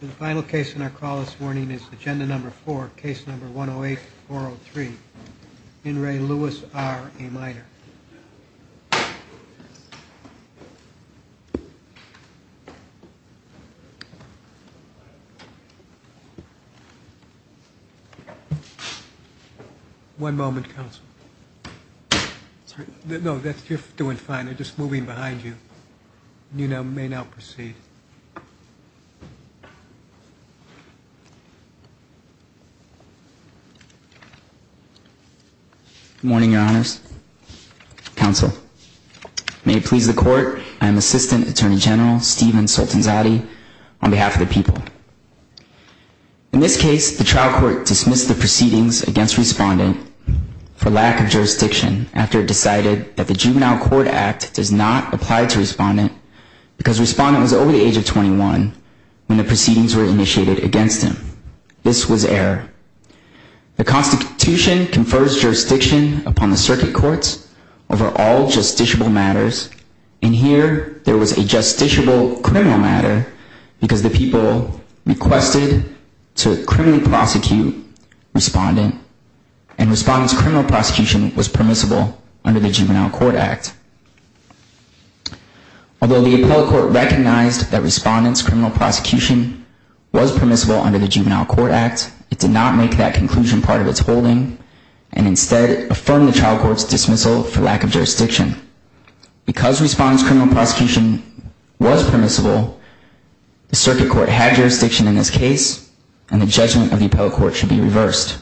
The final case in our call this morning is agenda number four, case number 108-403. In re Luis R. A minor. One moment, counsel. No, you're doing fine. They're just moving behind you. You may now proceed. Good morning, your honors. Counsel, may it please the court, I am Assistant Attorney General Stephen Soltanzade on behalf of the people. In this case, the trial court dismissed the proceedings against respondent for lack of jurisdiction after it decided that the Juvenile Court Act does not apply to respondent because respondent was over the age of 21 when the proceedings were initiated against him. This was error. The Constitution confers jurisdiction upon the circuit courts over all justiciable matters. In here, there was a justiciable criminal matter because the people requested to criminally prosecute respondent and respondent's criminal prosecution was permissible under the Juvenile Court Act. Although the appellate court recognized that respondent's criminal prosecution was permissible under the Juvenile Court Act, it did not make that conclusion part of its holding and instead affirmed the trial court's dismissal for lack of jurisdiction. Because respondent's criminal prosecution was permissible, the circuit court had jurisdiction in this case and the judgment of the appellate court should be reversed.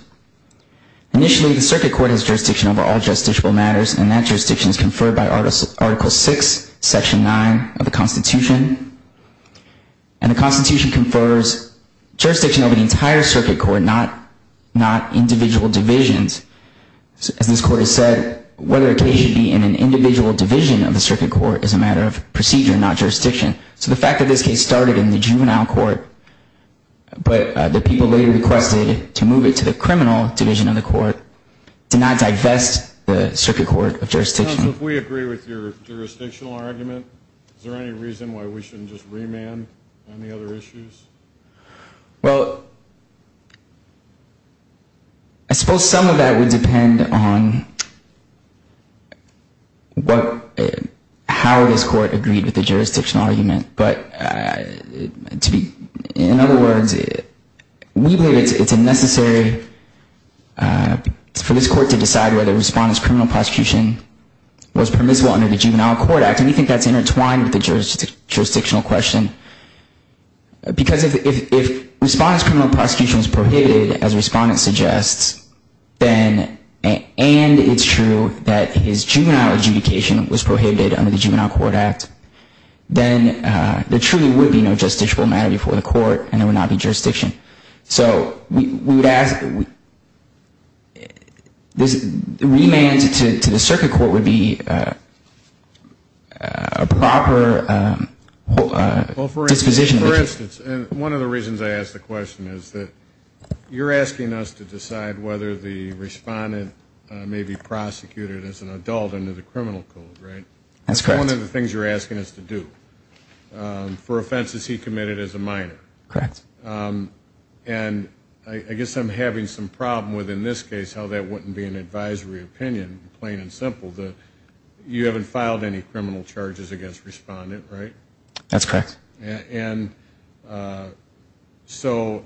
Initially, the circuit court has jurisdiction over all justiciable matters and that jurisdiction is conferred by Article VI, Section 9 of the Constitution. And the Constitution confers jurisdiction over the entire circuit court, not individual divisions. As this court has said, whether a case should be in an individual division of the circuit court is a matter of procedure, not jurisdiction. So the fact that this case started in the juvenile court but the people later requested to move it to the criminal division of the court did not divest the circuit court of jurisdiction. If we agree with your jurisdictional argument, is there any reason why we shouldn't just remand on the other issues? Well, I suppose some of that would depend on how this court agreed with the jurisdictional argument. But in other words, we believe it's necessary for this court to decide whether respondent's criminal prosecution was permissible under the Juvenile Court Act. And we think that's intertwined with the jurisdictional question. Because if respondent's criminal prosecution is prohibited, as respondent suggests, and it's true that his juvenile adjudication was prohibited under the Juvenile Court Act, then there truly would be no justiciable matter before the court and there would not be jurisdiction. So remand to the circuit court would be a proper disposition. For instance, one of the reasons I ask the question is that you're asking us to decide whether the respondent may be prosecuted as an adult under the criminal code, right? That's correct. That's one of the things you're asking us to do. For offenses he committed as a minor. Correct. And I guess I'm having some problem with, in this case, how that wouldn't be an advisory opinion, plain and simple. You haven't filed any criminal charges against respondent, right? That's correct. And so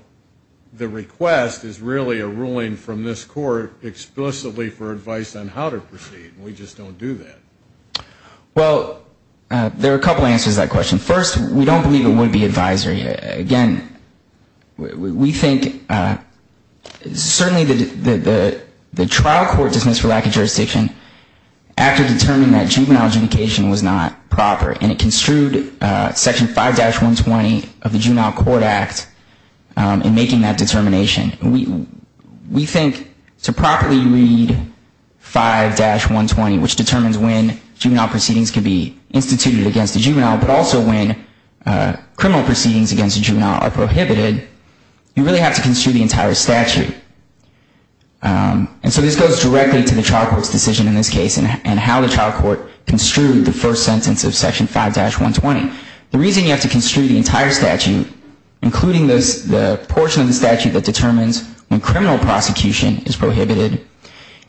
the request is really a ruling from this court explicitly for advice on how to proceed, and we just don't do that. Well, there are a couple answers to that question. First, we don't believe it would be advisory. Again, we think certainly the trial court dismissed for lack of jurisdiction after determining that juvenile adjudication was not proper, and it construed Section 5-120 of the Juvenile Court Act in making that determination. We think to properly read 5-120, which determines when juvenile proceedings can be instituted against a juvenile, but also when criminal proceedings against a juvenile are prohibited, you really have to construe the entire statute. And so this goes directly to the trial court's decision in this case and how the trial court construed the first sentence of Section 5-120. The reason you have to construe the entire statute, including the portion of the statute that determines when criminal prosecution is prohibited,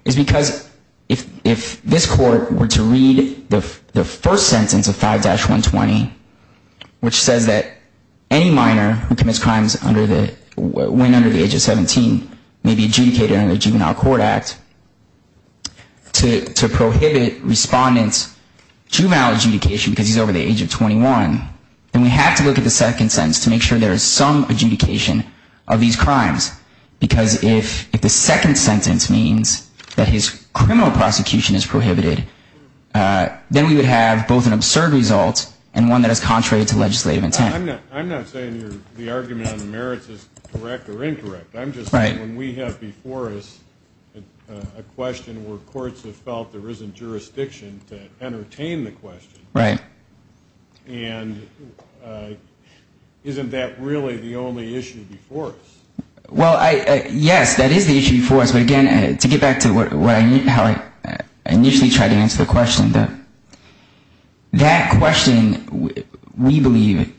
is because if this court were to read the first sentence of 5-120, which says that any minor who commits crimes when under the age of 17 may be adjudicated under the Juvenile Court Act to prohibit respondents' juvenile adjudication because he's over the age of 21, then we have to look at the second sentence to make sure there is some adjudication of these crimes. Because if the second sentence means that his criminal prosecution is prohibited, then we would have both an absurd result and one that is contrary to legislative intent. I'm not saying the argument on the merits is correct or incorrect. I'm just saying when we have before us a question where courts have felt there isn't jurisdiction to entertain the question. Right. And isn't that really the only issue before us? Well, yes, that is the issue before us. But again, to get back to how I initially tried to answer the question, that question, we believe,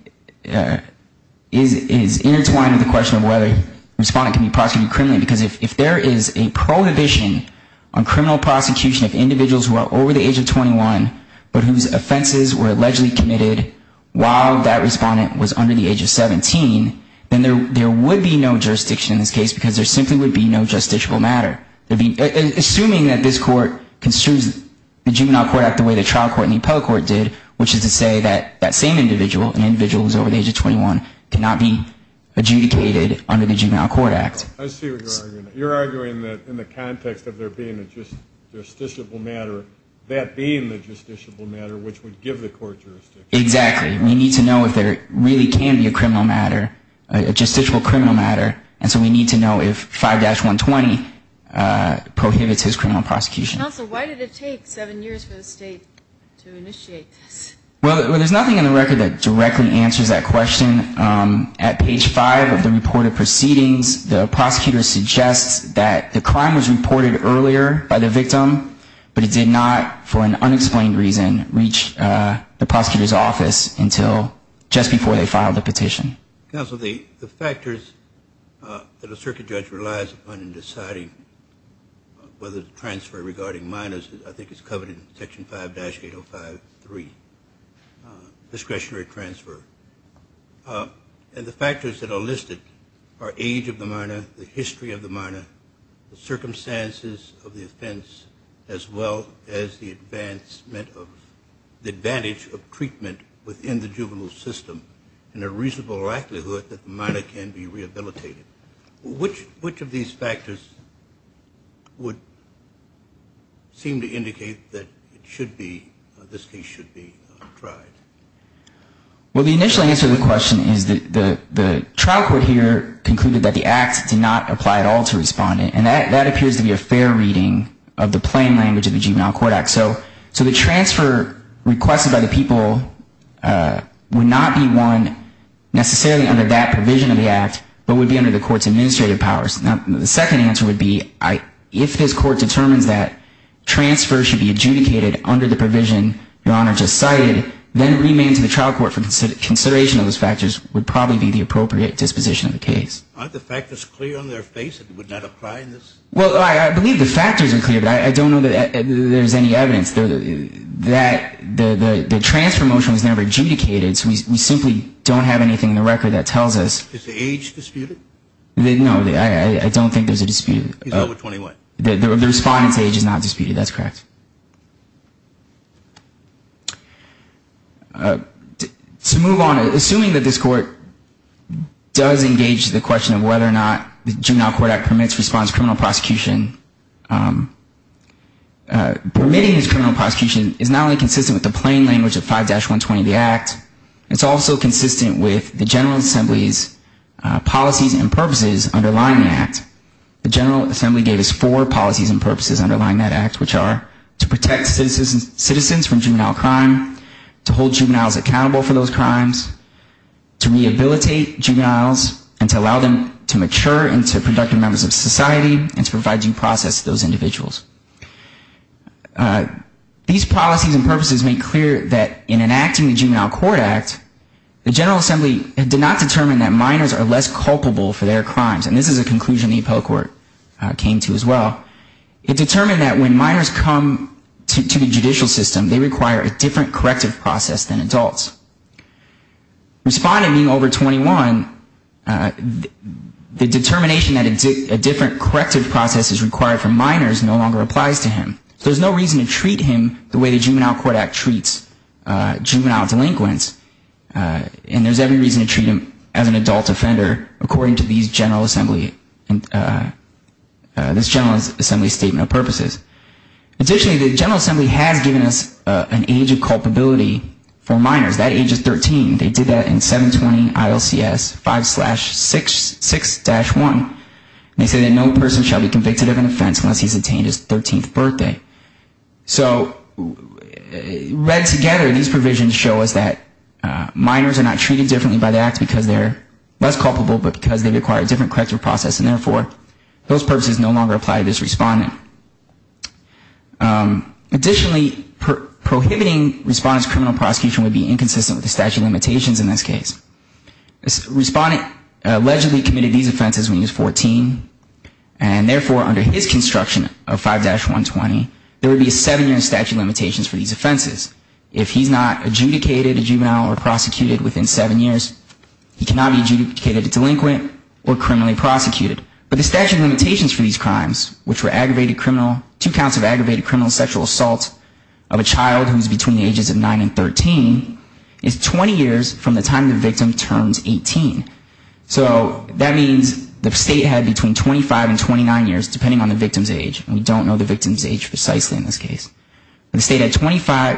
is intertwined with the question of whether a respondent can be prosecuted criminally, because if there is a prohibition on criminal prosecution of individuals who are over the age of 21 but whose offenses were allegedly committed while that respondent was under the age of 17, then there would be no jurisdiction in this case because there simply would be no justiciable matter. Assuming that this court consumes the Juvenile Court Act the way the trial court and the appellate court did, which is to say that that same individual, an individual who is over the age of 21, cannot be adjudicated under the Juvenile Court Act. I see what you're arguing. You're arguing that in the context of there being a justiciable matter, that being the justiciable matter which would give the court jurisdiction. Exactly. We need to know if there really can be a criminal matter, a justiciable criminal matter, and so we need to know if 5-120 prohibits his criminal prosecution. Counsel, why did it take seven years for the state to initiate this? Well, there's nothing in the record that directly answers that question. At page five of the report of proceedings, the prosecutor suggests that the crime was reported earlier by the victim, but it did not, for an unexplained reason, reach the prosecutor's office until just before they filed the petition. Counsel, the factors that a circuit judge relies upon in deciding whether to transfer regarding minors, I think it's covered in Section 5-805.3, discretionary transfer. And the factors that are listed are age of the minor, the history of the minor, the circumstances of the offense, as well as the advantage of treatment within the juvenile system and a reasonable likelihood that the minor can be rehabilitated. Which of these factors would seem to indicate that this case should be tried? Well, the initial answer to the question is that the trial court here concluded that the act did not apply at all to respondent, and that appears to be a fair reading of the plain language of the Juvenile Court Act. So the transfer requested by the people would not be one necessarily under that provision of the act, but would be under the court's administrative powers. Now, the second answer would be if this court determines that transfers should be adjudicated under the provision Your Honor just cited, then remand to the trial court for consideration of those factors would probably be the appropriate disposition of the case. Aren't the factors clear on their face that it would not apply in this? Well, I believe the factors are clear, but I don't know that there's any evidence that the transfer motion was never adjudicated, so we simply don't have anything in the record that tells us. Is the age disputed? No, I don't think there's a dispute. He's over 21. The respondent's age is not disputed, that's correct. To move on, assuming that this court does engage the question of whether or not the Juvenile Court Act permits response to criminal prosecution, permitting this criminal prosecution is not only consistent with the plain language of 5-120 of the act, it's also consistent with the General Assembly's policies and purposes underlying the act. The General Assembly gave us four policies and purposes underlying that act, which are to protect citizens from juvenile crime, to hold juveniles accountable for those crimes, to rehabilitate juveniles and to allow them to mature into productive members of society and to provide due process to those individuals. These policies and purposes make clear that in enacting the Juvenile Court Act, the General Assembly did not determine that minors are less culpable for their crimes, and this is a conclusion the appellate court came to as well. It determined that when minors come to the judicial system, they require a different corrective process than adults. Respondent being over 21, the determination that a different corrective process is required for minors no longer applies to him. There's no reason to treat him the way the Juvenile Court Act treats juvenile delinquents, and there's every reason to treat him as an adult offender, according to these General Assembly, this General Assembly statement of purposes. Additionally, the General Assembly has given us an age of culpability for minors. That age is 13. They did that in 720 ILCS 5-66-1. They say that no person shall be convicted of an offense unless he's attained his 13th birthday. So read together, these provisions show us that minors are not treated differently by the act because they're less culpable, but because they require a different corrective process, and therefore, those purposes no longer apply to this respondent. Additionally, prohibiting respondents' criminal prosecution would be inconsistent with the statute of limitations in this case. Respondent allegedly committed these offenses when he was 14, and therefore, under his construction of 5-120, there would be a seven-year statute of limitations for these offenses. If he's not adjudicated a juvenile or prosecuted within seven years, he cannot be adjudicated a delinquent or criminally prosecuted. But the statute of limitations for these crimes, which were aggravated criminal, two counts of aggravated criminal sexual assault of a child who's between the ages of 9 and 13, is 20 years from the time the victim turns 18. So that means the state had between 25 and 29 years, depending on the victim's age. We don't know the victim's age precisely in this case. But the state had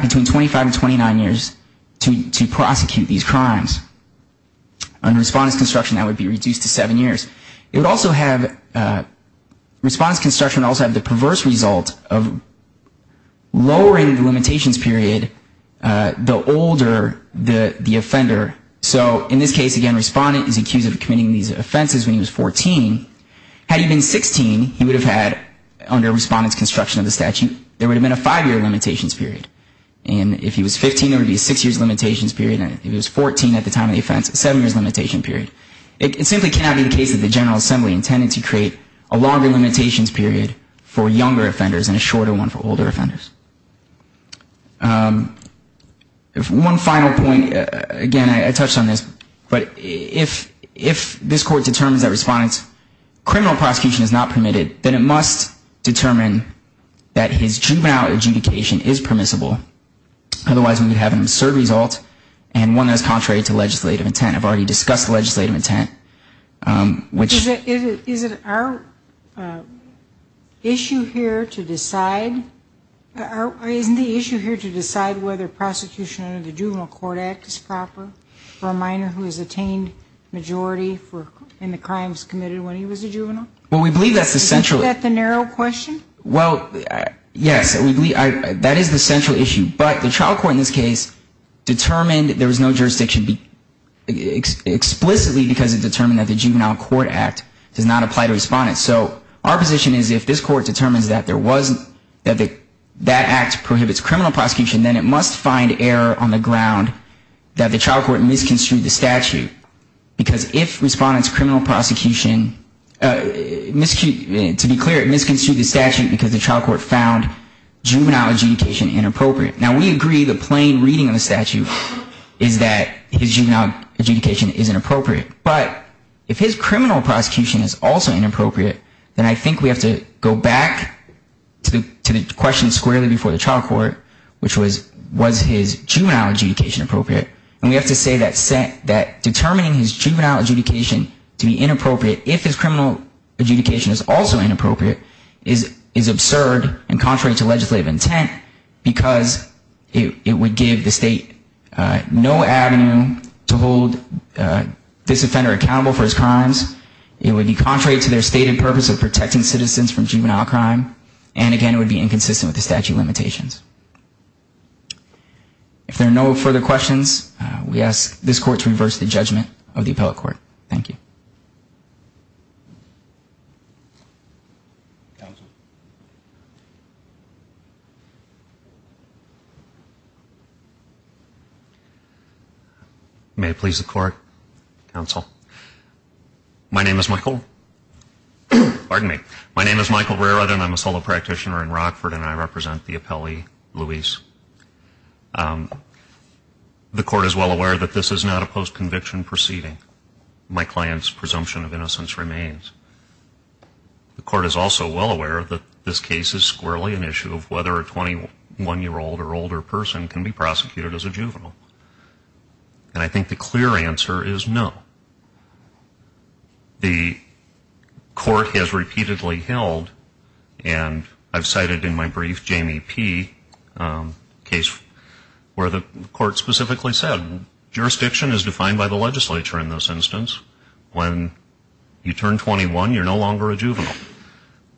between 25 and 29 years to prosecute these crimes. Under respondent's construction, that would be reduced to seven years. It would also have, respondent's construction would also have the perverse result of lowering the limitations period the older the offender. So in this case, again, respondent is accused of committing these offenses when he was 14. Had he been 16, he would have had, under respondent's construction of the statute, there would have been a five-year limitations period. And if he was 15, there would be a six-year limitations period. And if he was 14 at the time of the offense, a seven-year limitations period. It simply cannot be the case that the General Assembly intended to create a longer limitations period for younger offenders and a shorter one for older offenders. One final point, again, I touched on this, but if this Court determines that respondent's criminal prosecution is not permitted, then it must determine that his juvenile adjudication is permissible. Otherwise, we would have an absurd result and one that is contrary to legislative intent. I've already discussed legislative intent, which ‑‑ Is it our issue here to decide, isn't the issue here to decide whether prosecution under the Juvenile Court Act is proper for a minor who has attained majority in the crimes committed when he was a juvenile? Well, we believe that's the central issue. Isn't that the narrow question? Well, yes, that is the central issue. But the trial court in this case determined there was no jurisdiction explicitly because it determined that the Juvenile Court Act does not apply to respondents. So our position is if this Court determines that there was ‑‑ that act prohibits criminal prosecution, then it must find error on the ground that the trial court misconstrued the statute. Because if respondents' criminal prosecution ‑‑ to be clear, it misconstrued the statute because the trial court found juvenile adjudication inappropriate. Now, we agree the plain reading of the statute is that his juvenile adjudication is inappropriate. But if his criminal prosecution is also inappropriate, then I think we have to go back to the question squarely before the trial court, which was, was his juvenile adjudication appropriate? And we have to say that determining his juvenile adjudication to be inappropriate if his criminal adjudication is also inappropriate is absurd and contrary to legislative intent because it would give the state no avenue to hold this offender accountable for his crimes. It would be contrary to their stated purpose of protecting citizens from juvenile crime. And, again, it would be inconsistent with the statute limitations. If there are no further questions, we ask this Court to reverse the judgment of the appellate court. Thank you. May it please the Court. Counsel. My name is Michael. Pardon me. My name is Michael Rerut and I'm a solo practitioner in Rockford and I represent the appellee, Luis. The Court is well aware that this is not a post-conviction proceeding. My client's presumption of innocence remains. The Court is also well aware that this case is squarely an issue of whether a 21-year-old or older person can be prosecuted as a juvenile. And I think the clear answer is no. The Court has repeatedly held, and I've cited in my brief, Jamie P., a case where the Court specifically said, jurisdiction is defined by the legislature in this instance. When you turn 21, you're no longer a juvenile.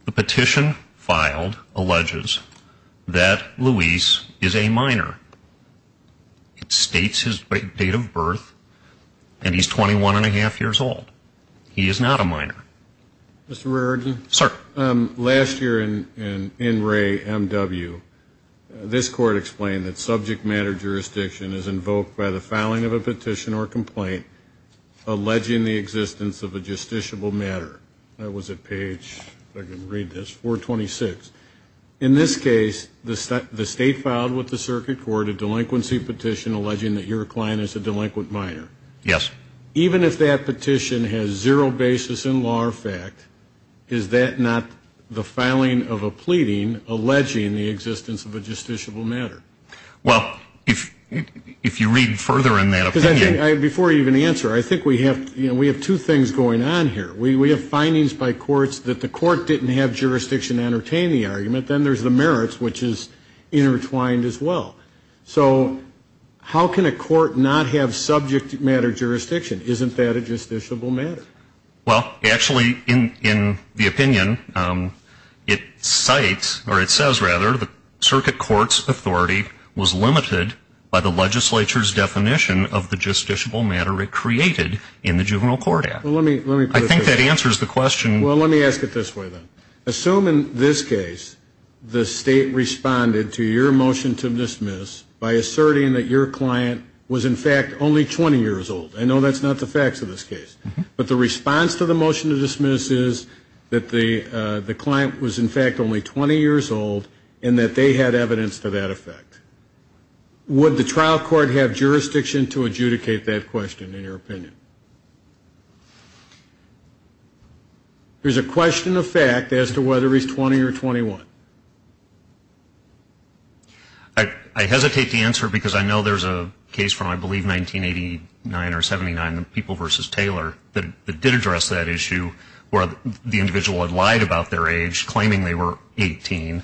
The petition filed alleges that Luis is a minor. It states his date of birth and he's 21-and-a-half years old. He is not a minor. Mr. Rerut. Sir. Last year in Ray M.W., this Court explained that subject matter jurisdiction is invoked by the filing of a petition or complaint alleging the existence of a justiciable matter. That was at page, if I can read this, 426. In this case, the State filed with the Circuit Court a delinquency petition alleging that your client is a delinquent minor. Yes. Even if that petition has zero basis in law or fact, is that not the filing of a pleading alleging the existence of a justiciable matter? Well, if you read further in that opinion... Because I think, before you even answer, I think we have two things going on here. We have findings by courts that the court didn't have jurisdiction to entertain the argument. Then there's the merits, which is intertwined as well. So how can a court not have subject matter jurisdiction? Isn't that a justiciable matter? Well, actually, in the opinion, it cites, or it says, rather, the Circuit Court's authority was limited by the legislature's definition of the justiciable matter it created in the Juvenile Court Act. Well, let me put it this way. I think that answers the question. Well, let me ask it this way, then. Assume, in this case, the State responded to your motion to dismiss by asserting that your client was, in fact, only 20 years old. I know that's not the facts of this case. But the response to the motion to dismiss is that the client was, in fact, only 20 years old and that they had evidence to that effect. Would the trial court have jurisdiction to adjudicate that question, in your opinion? There's a question of fact as to whether he's 20 or 21. I hesitate to answer because I know there's a case from, I believe, 1989 or 79, People v. Taylor, that did address that issue, where the individual had lied about their age, claiming they were 18,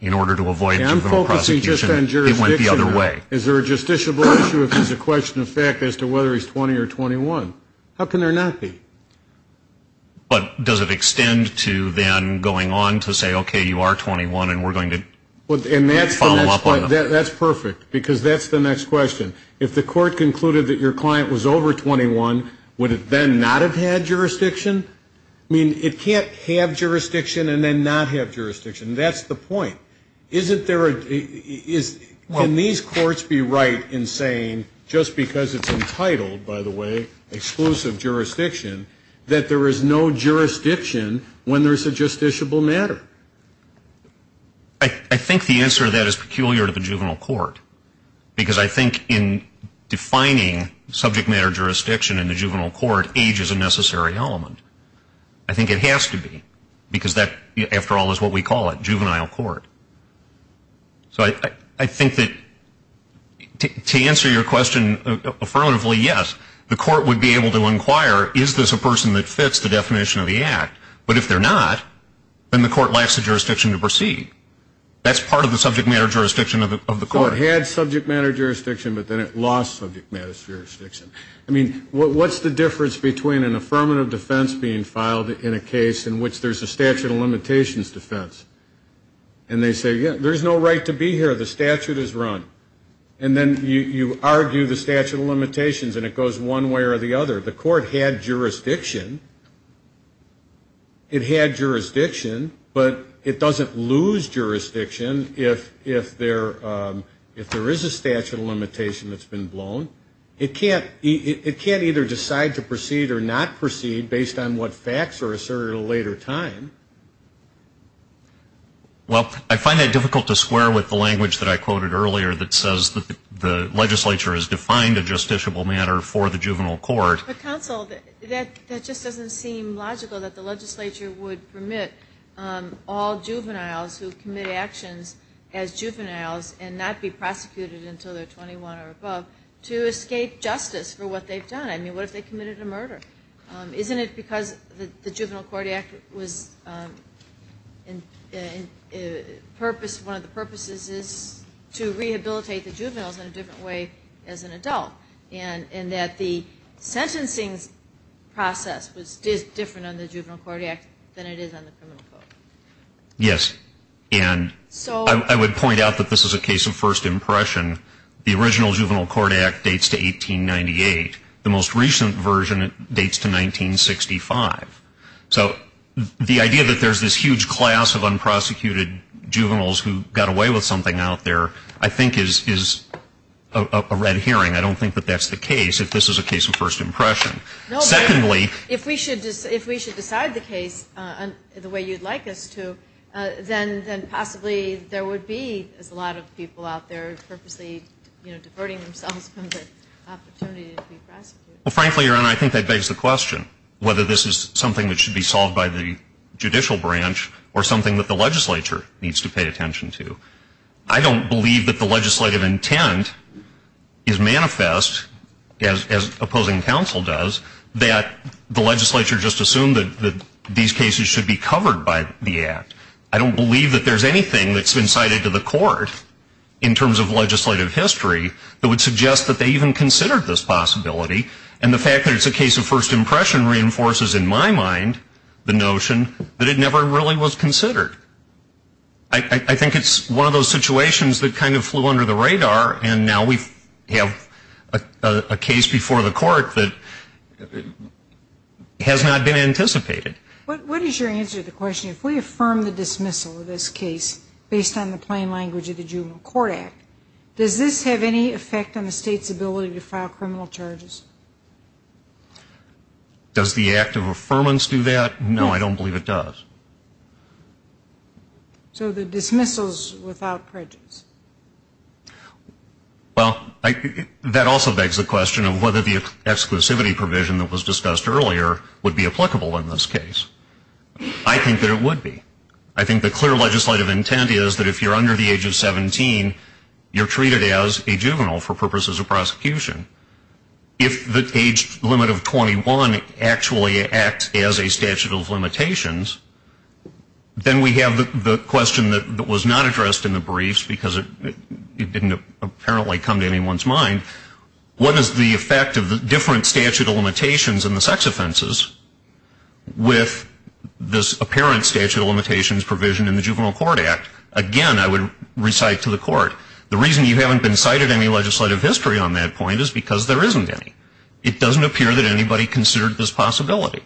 in order to avoid juvenile prosecution. I'm focusing just on jurisdiction. It went the other way. Is there a justiciable issue if there's a question of fact as to whether he's 20 or 21? How can there not be? But does it extend to then going on to say, okay, you are 21, and we're going to follow up on that? That's perfect, because that's the next question. If the court concluded that your client was over 21, would it then not have had jurisdiction? I mean, it can't have jurisdiction and then not have jurisdiction. That's the point. Can these courts be right in saying, just because it's entitled, by the way, exclusive jurisdiction, that there is no jurisdiction when there's a justiciable matter? I think the answer to that is peculiar to the juvenile court, because I think in defining subject matter jurisdiction in the juvenile court, age is a necessary element. I think it has to be, because that, after all, is what we call a juvenile court. So I think that to answer your question affirmatively, yes. The court would be able to inquire, is this a person that fits the definition of the act? But if they're not, then the court lacks the jurisdiction to proceed. That's part of the subject matter jurisdiction of the court. So it had subject matter jurisdiction, but then it lost subject matter jurisdiction. I mean, what's the difference between an affirmative defense being filed in a case in which there's a statute of limitations defense? And they say, yeah, there's no right to be here. The statute is run. And then you argue the statute of limitations, and it goes one way or the other. The court had jurisdiction. It had jurisdiction, but it doesn't lose jurisdiction if there is a statute of limitation that's been blown. It can't either decide to proceed or not proceed based on what facts are asserted at a later time. Well, I find it difficult to square with the language that I quoted earlier that says that the legislature has defined a justiciable matter for the juvenile court. But, counsel, that just doesn't seem logical, that the legislature would permit all juveniles who commit actions as juveniles and not be prosecuted until they're 21 or above to escape justice for what they've done. I mean, what if they committed a murder? Isn't it because the Juvenile Court Act was purpose, one of the purposes is to rehabilitate the juveniles in a different way as an adult, and that the sentencing process was different on the Juvenile Court Act than it is on the criminal court? Yes. And I would point out that this is a case of first impression. The original Juvenile Court Act dates to 1898. The most recent version dates to 1965. So the idea that there's this huge class of unprosecuted juveniles who got away with something out there, I think is a red herring. I don't think that that's the case if this is a case of first impression. No, but if we should decide the case the way you'd like us to, then possibly there would be, as a lot of people out there purposely, you know, diverting themselves from the opportunity to be prosecuted. Well, frankly, Your Honor, I think that begs the question, whether this is something that should be solved by the judicial branch or something that the legislature needs to pay attention to. I don't believe that the legislative intent is manifest, as opposing counsel does, that the legislature just assumed that these cases should be covered by the act. I don't believe that there's anything that's been cited to the court in terms of legislative history that would suggest that they even considered this possibility. And the fact that it's a case of first impression reinforces, in my mind, the notion that it never really was considered. I think it's one of those situations that kind of flew under the radar and now we have a case before the court that has not been anticipated. What is your answer to the question, if we affirm the dismissal of this case based on the plain language of the Juvenile Court Act, does this have any effect on the state's ability to file criminal charges? Does the act of affirmance do that? No, I don't believe it does. So the dismissal is without prejudice? Well, that also begs the question of whether the exclusivity provision that was discussed earlier would be applicable in this case. I think that it would be. I think the clear legislative intent is that if you're under the age of 17, you're treated as a juvenile for purposes of prosecution. If the age limit of 21 actually acts as a statute of limitations, then we have the question that was not addressed in the briefs because it didn't apparently come to anyone's mind. What is the effect of the different statute of limitations in the sex offenses with this apparent statute of limitations provision in the Juvenile Court Act? Again, I would recite to the court, the reason you haven't been cited any legislative history on that point is because there isn't any. It doesn't appear that anybody considered this possibility.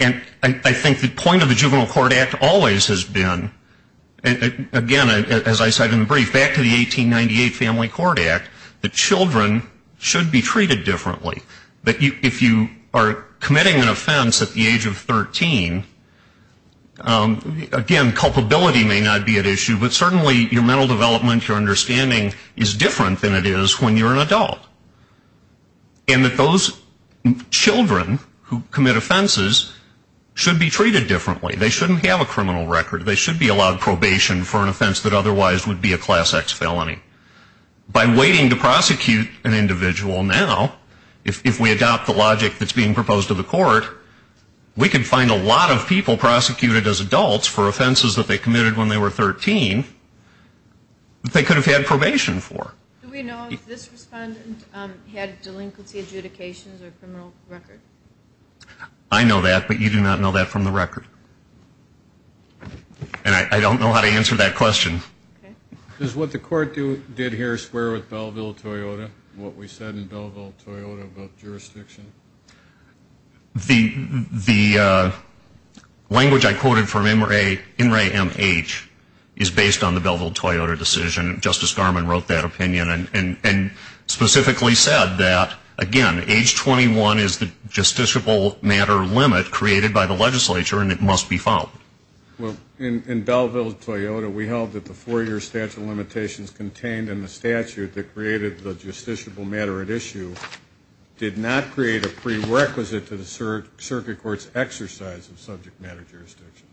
And I think the point of the Juvenile Court Act always has been, again, as I said in the brief, back to the 1898 Family Court Act, that children should be treated differently. That if you are committing an offense at the age of 13, again, culpability may not be at issue, but certainly your mental development, your understanding is different than it is when you're an adult. And that those children who commit offenses should be treated differently. They shouldn't have a criminal record. They should be allowed probation for an offense that otherwise would be a Class X felony. By waiting to prosecute an individual now, if we adopt the logic that's being proposed to the court, we can find a lot of people prosecuted as adults for offenses that they committed when they were 13 that they could have had probation for. Do we know if this respondent had delinquency adjudications or a criminal record? I know that, but you do not know that from the record. And I don't know how to answer that question. Does what the court did here square with Belleville-Toyota, what we said in Belleville-Toyota about jurisdiction? The language I quoted from In Re M H is based on the Belleville-Toyota decision. Justice Garmon wrote that opinion and specifically said that, again, age 21 is the justiciable matter limit created by the legislature, and it must be found. Well, in Belleville-Toyota, we held that the four-year statute of limitations contained in the statute that created the justiciable matter at issue did not create a prerequisite to the circuit court's exercise of subject matter jurisdiction.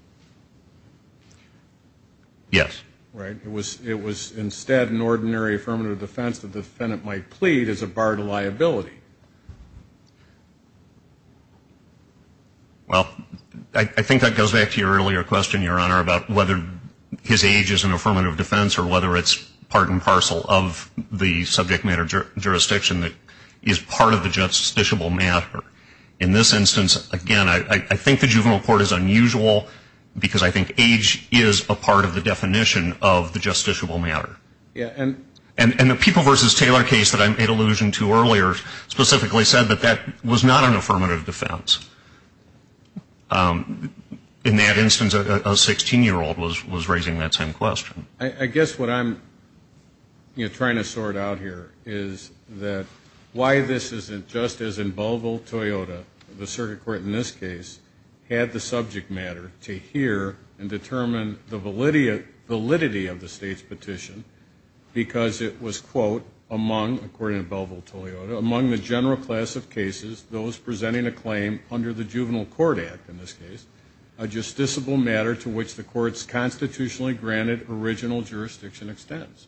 Yes. Right? It was instead an ordinary affirmative defense the defendant might plead as a barred liability. Well, I think that goes back to your earlier question, Your Honor, about whether his age is an affirmative defense or whether it's part and parcel of the subject matter jurisdiction that is part of the justiciable matter. In this instance, again, I think the juvenile court is unusual because I think age is a part of the definition of the justiciable matter. And the People v. Taylor case that I made allusion to earlier specifically said that that was not an affirmative defense. In that instance, a 16-year-old was raising that same question. I guess what I'm trying to sort out here is that why this isn't just as in Belleville-Toyota, the circuit court in this case had the subject matter to hear and determine the validity of the State's petition because it was, quote, among, according to Belleville-Toyota, among the general class of cases, those presenting a claim under the Juvenile Court Act in this case, a justiciable matter to which the Court's constitutionally granted original jurisdiction extends.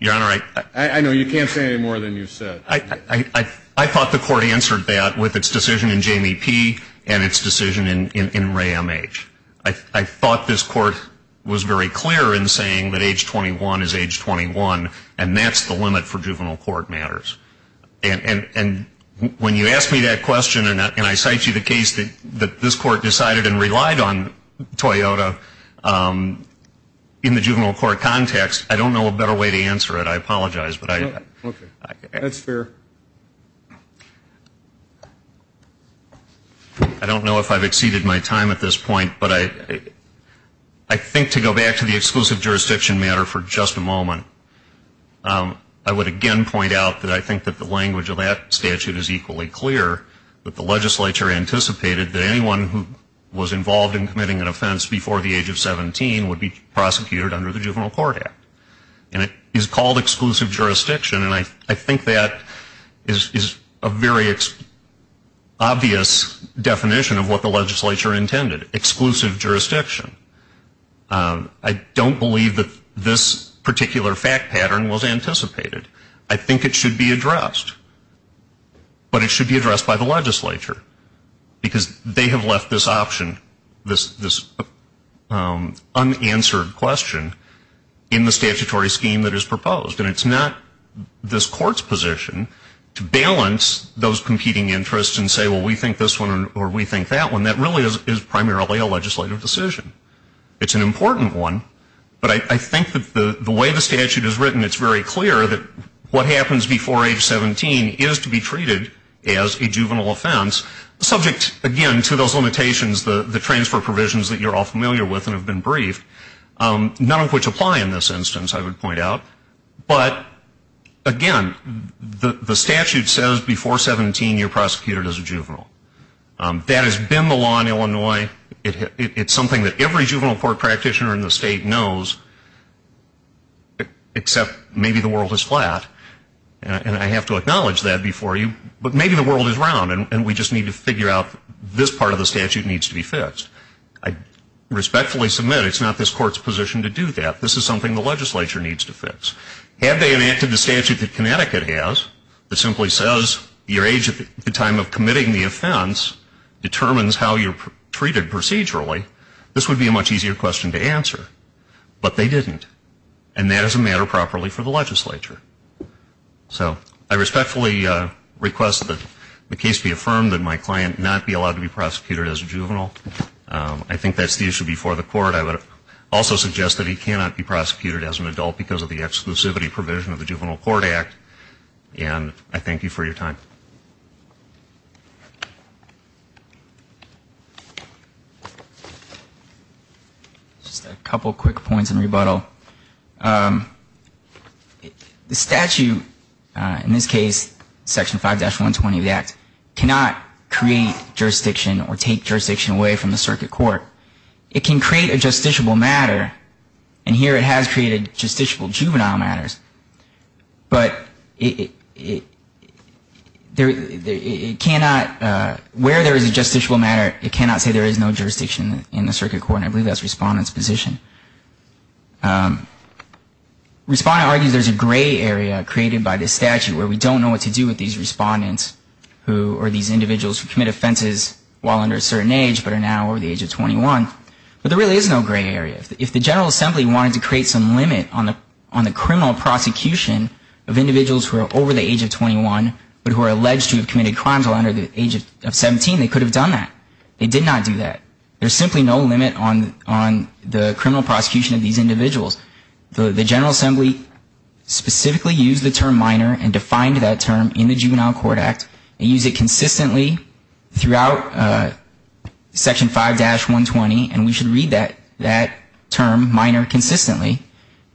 Your Honor, I know you can't say any more than you've said. I thought the Court answered that with its decision in Jamie P. and its decision in Ray M. H. I thought this Court was very clear in saying that age 21 is age 21 and that's the limit for juvenile court matters. And when you ask me that question and I cite you the case that this Court decided and relied on Toyota in the juvenile court context, I don't know a better way to answer it. I apologize, but I don't know if I've exceeded my time at this point, but I think to go back to the exclusive jurisdiction matter for just a moment, I would again point out that I think that the language of that statute is equally clear that the legislature anticipated that anyone who was involved in committing an offense before the age of 17 would be prosecuted under the Juvenile Court Act. And it is called exclusive jurisdiction, and I think that is a very obvious definition of what the legislature intended. Exclusive jurisdiction. I don't believe that this particular fact pattern was anticipated. I think it should be addressed, but it should be addressed by the legislature because they have left this option, this unanswered question in the statutory scheme that is proposed. And it's not this Court's position to balance those competing interests and say, well, we think this one or we think that one. That really is primarily a legislative decision. It's an important one, but I think that the way the statute is written, it's very clear that what happens before age 17 is to be treated as a juvenile offense, subject again to those limitations, the transfer provisions that you're all familiar with and have been briefed, none of which apply in this instance, I would point out. But, again, the statute says before 17 you're prosecuted as a juvenile. That has been the law in Illinois. It's something that every juvenile court practitioner in the state knows, except maybe the world is flat, and I have to acknowledge that before you, but maybe the world is round and we just need to figure out this part of the statute needs to be fixed. I respectfully submit it's not this Court's position to do that. This is something the legislature needs to fix. Had they enacted the statute that Connecticut has, that simply says your age at the time of committing the offense determines how you're treated procedurally, this would be a much easier question to answer. But they didn't. And that is a matter properly for the legislature. So I respectfully request that the case be affirmed, that my client not be allowed to be prosecuted as a juvenile. I think that's the issue before the Court. I would also suggest that he cannot be prosecuted as an adult because of the exclusivity provision of the Juvenile Court Act, and I thank you for your time. Just a couple quick points in rebuttal. The statute, in this case Section 5-120 of the Act, cannot create jurisdiction or take jurisdiction away from the circuit court. It can create a justiciable matter, and here it has created justiciable juvenile matters, but it cannot, where there is a justiciable matter, it cannot say there is no jurisdiction in the circuit court, and I believe that's Respondent's position. Respondent argues there's a gray area created by this statute where we don't know what to do with these respondents who, or these individuals who commit offenses while under a certain age but are now over the age of 21, but there really is no gray area. If the General Assembly wanted to create some limit on the criminal prosecution of individuals who are over the age of 21 but who are alleged to have committed crimes while under the age of 17, they could have done that. They did not do that. There's simply no limit on the criminal prosecution of these individuals. The General Assembly specifically used the term minor and defined that term in the Juvenile Court Act and used it consistently throughout Section 5-120, and we should read that term, minor, consistently,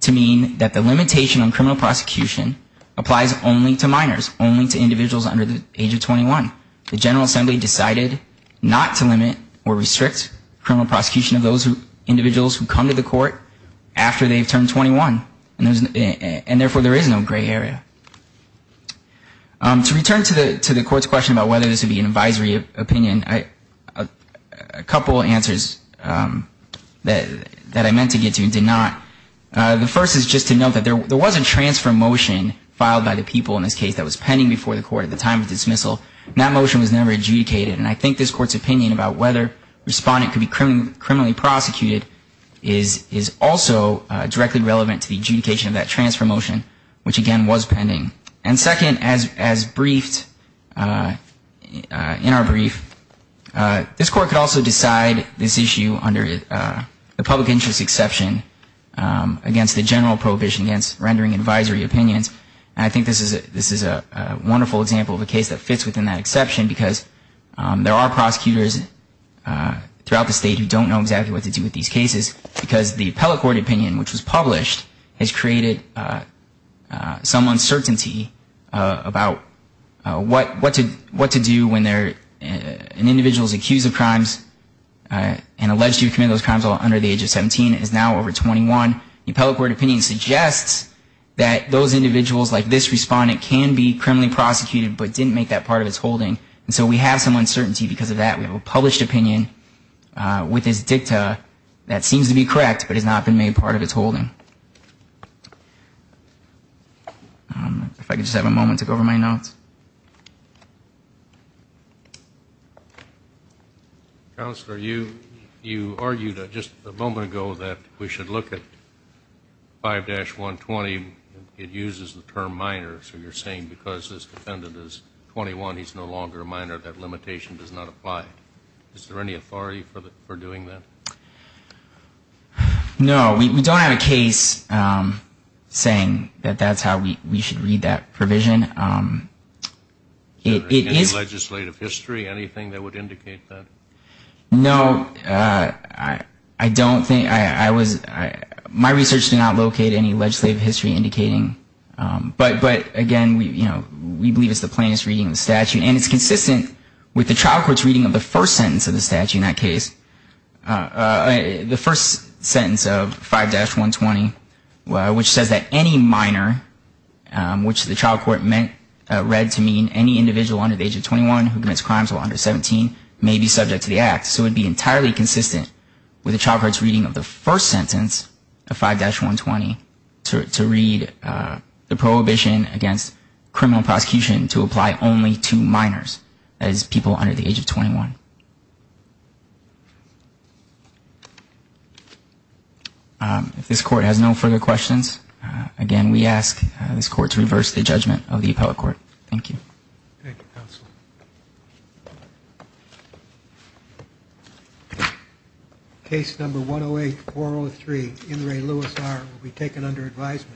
to mean that the limitation on criminal prosecution applies only to minors, only to individuals under the age of 21. The General Assembly decided not to limit or restrict criminal prosecution of those individuals who come to the court after they've turned 21, and therefore there is no gray area. To return to the Court's question about whether this would be an advisory opinion, a couple answers that I meant to get to and did not. The first is just to note that there was a transfer motion filed by the people in this case that was pending before the Court at the time of dismissal. That motion was never adjudicated, and I think this Court's opinion about whether a respondent could be criminally prosecuted is also directly relevant to the adjudication of that transfer motion, which again was pending. And second, as briefed in our brief, this Court could also decide this issue under the public interest exception against the general prohibition against rendering advisory opinions. And I think this is a wonderful example of a case that fits within that exception because there are prosecutors throughout the state who don't know exactly what to do with these cases because the appellate court opinion, which was published, has created some uncertainty about what to do when an individual is accused of crimes and alleged to have committed those crimes under the age of 17 and is now over 21. The appellate court opinion suggests that those individuals like this respondent can be criminally prosecuted but didn't make that part of its holding, and so we have some uncertainty because of that. We have a published opinion with this dicta that seems to be correct but has not been made part of its holding. If I could just have a moment to go over my notes. Counselor, you argued just a moment ago that we should look at 5-120. It uses the term minor, so you're saying because this defendant is 21, he's no longer a minor, that limitation does not apply. Is there any authority for doing that? No, we don't have a case saying that that's how we should read that provision. Is there any legislative history, anything that would indicate that? No, I don't think. My research did not locate any legislative history indicating. But, again, we believe it's the plainest reading of the statute, and it's consistent with the trial court's reading of the first sentence of the statute in that case, the first sentence of 5-120, which says that any minor, which the trial court read to mean any individual under the age of 21 who commits crimes while under 17 may be subject to the act. So it would be entirely consistent with the trial court's reading of the first sentence of 5-120 to read the prohibition against criminal prosecution to apply only to minors, that is, people under the age of 21. If this court has no further questions, again, we ask this court to reverse the judgment of the appellate court. Thank you. Thank you, counsel. Case number 108-403, In re Luis R, will be taken under advisement.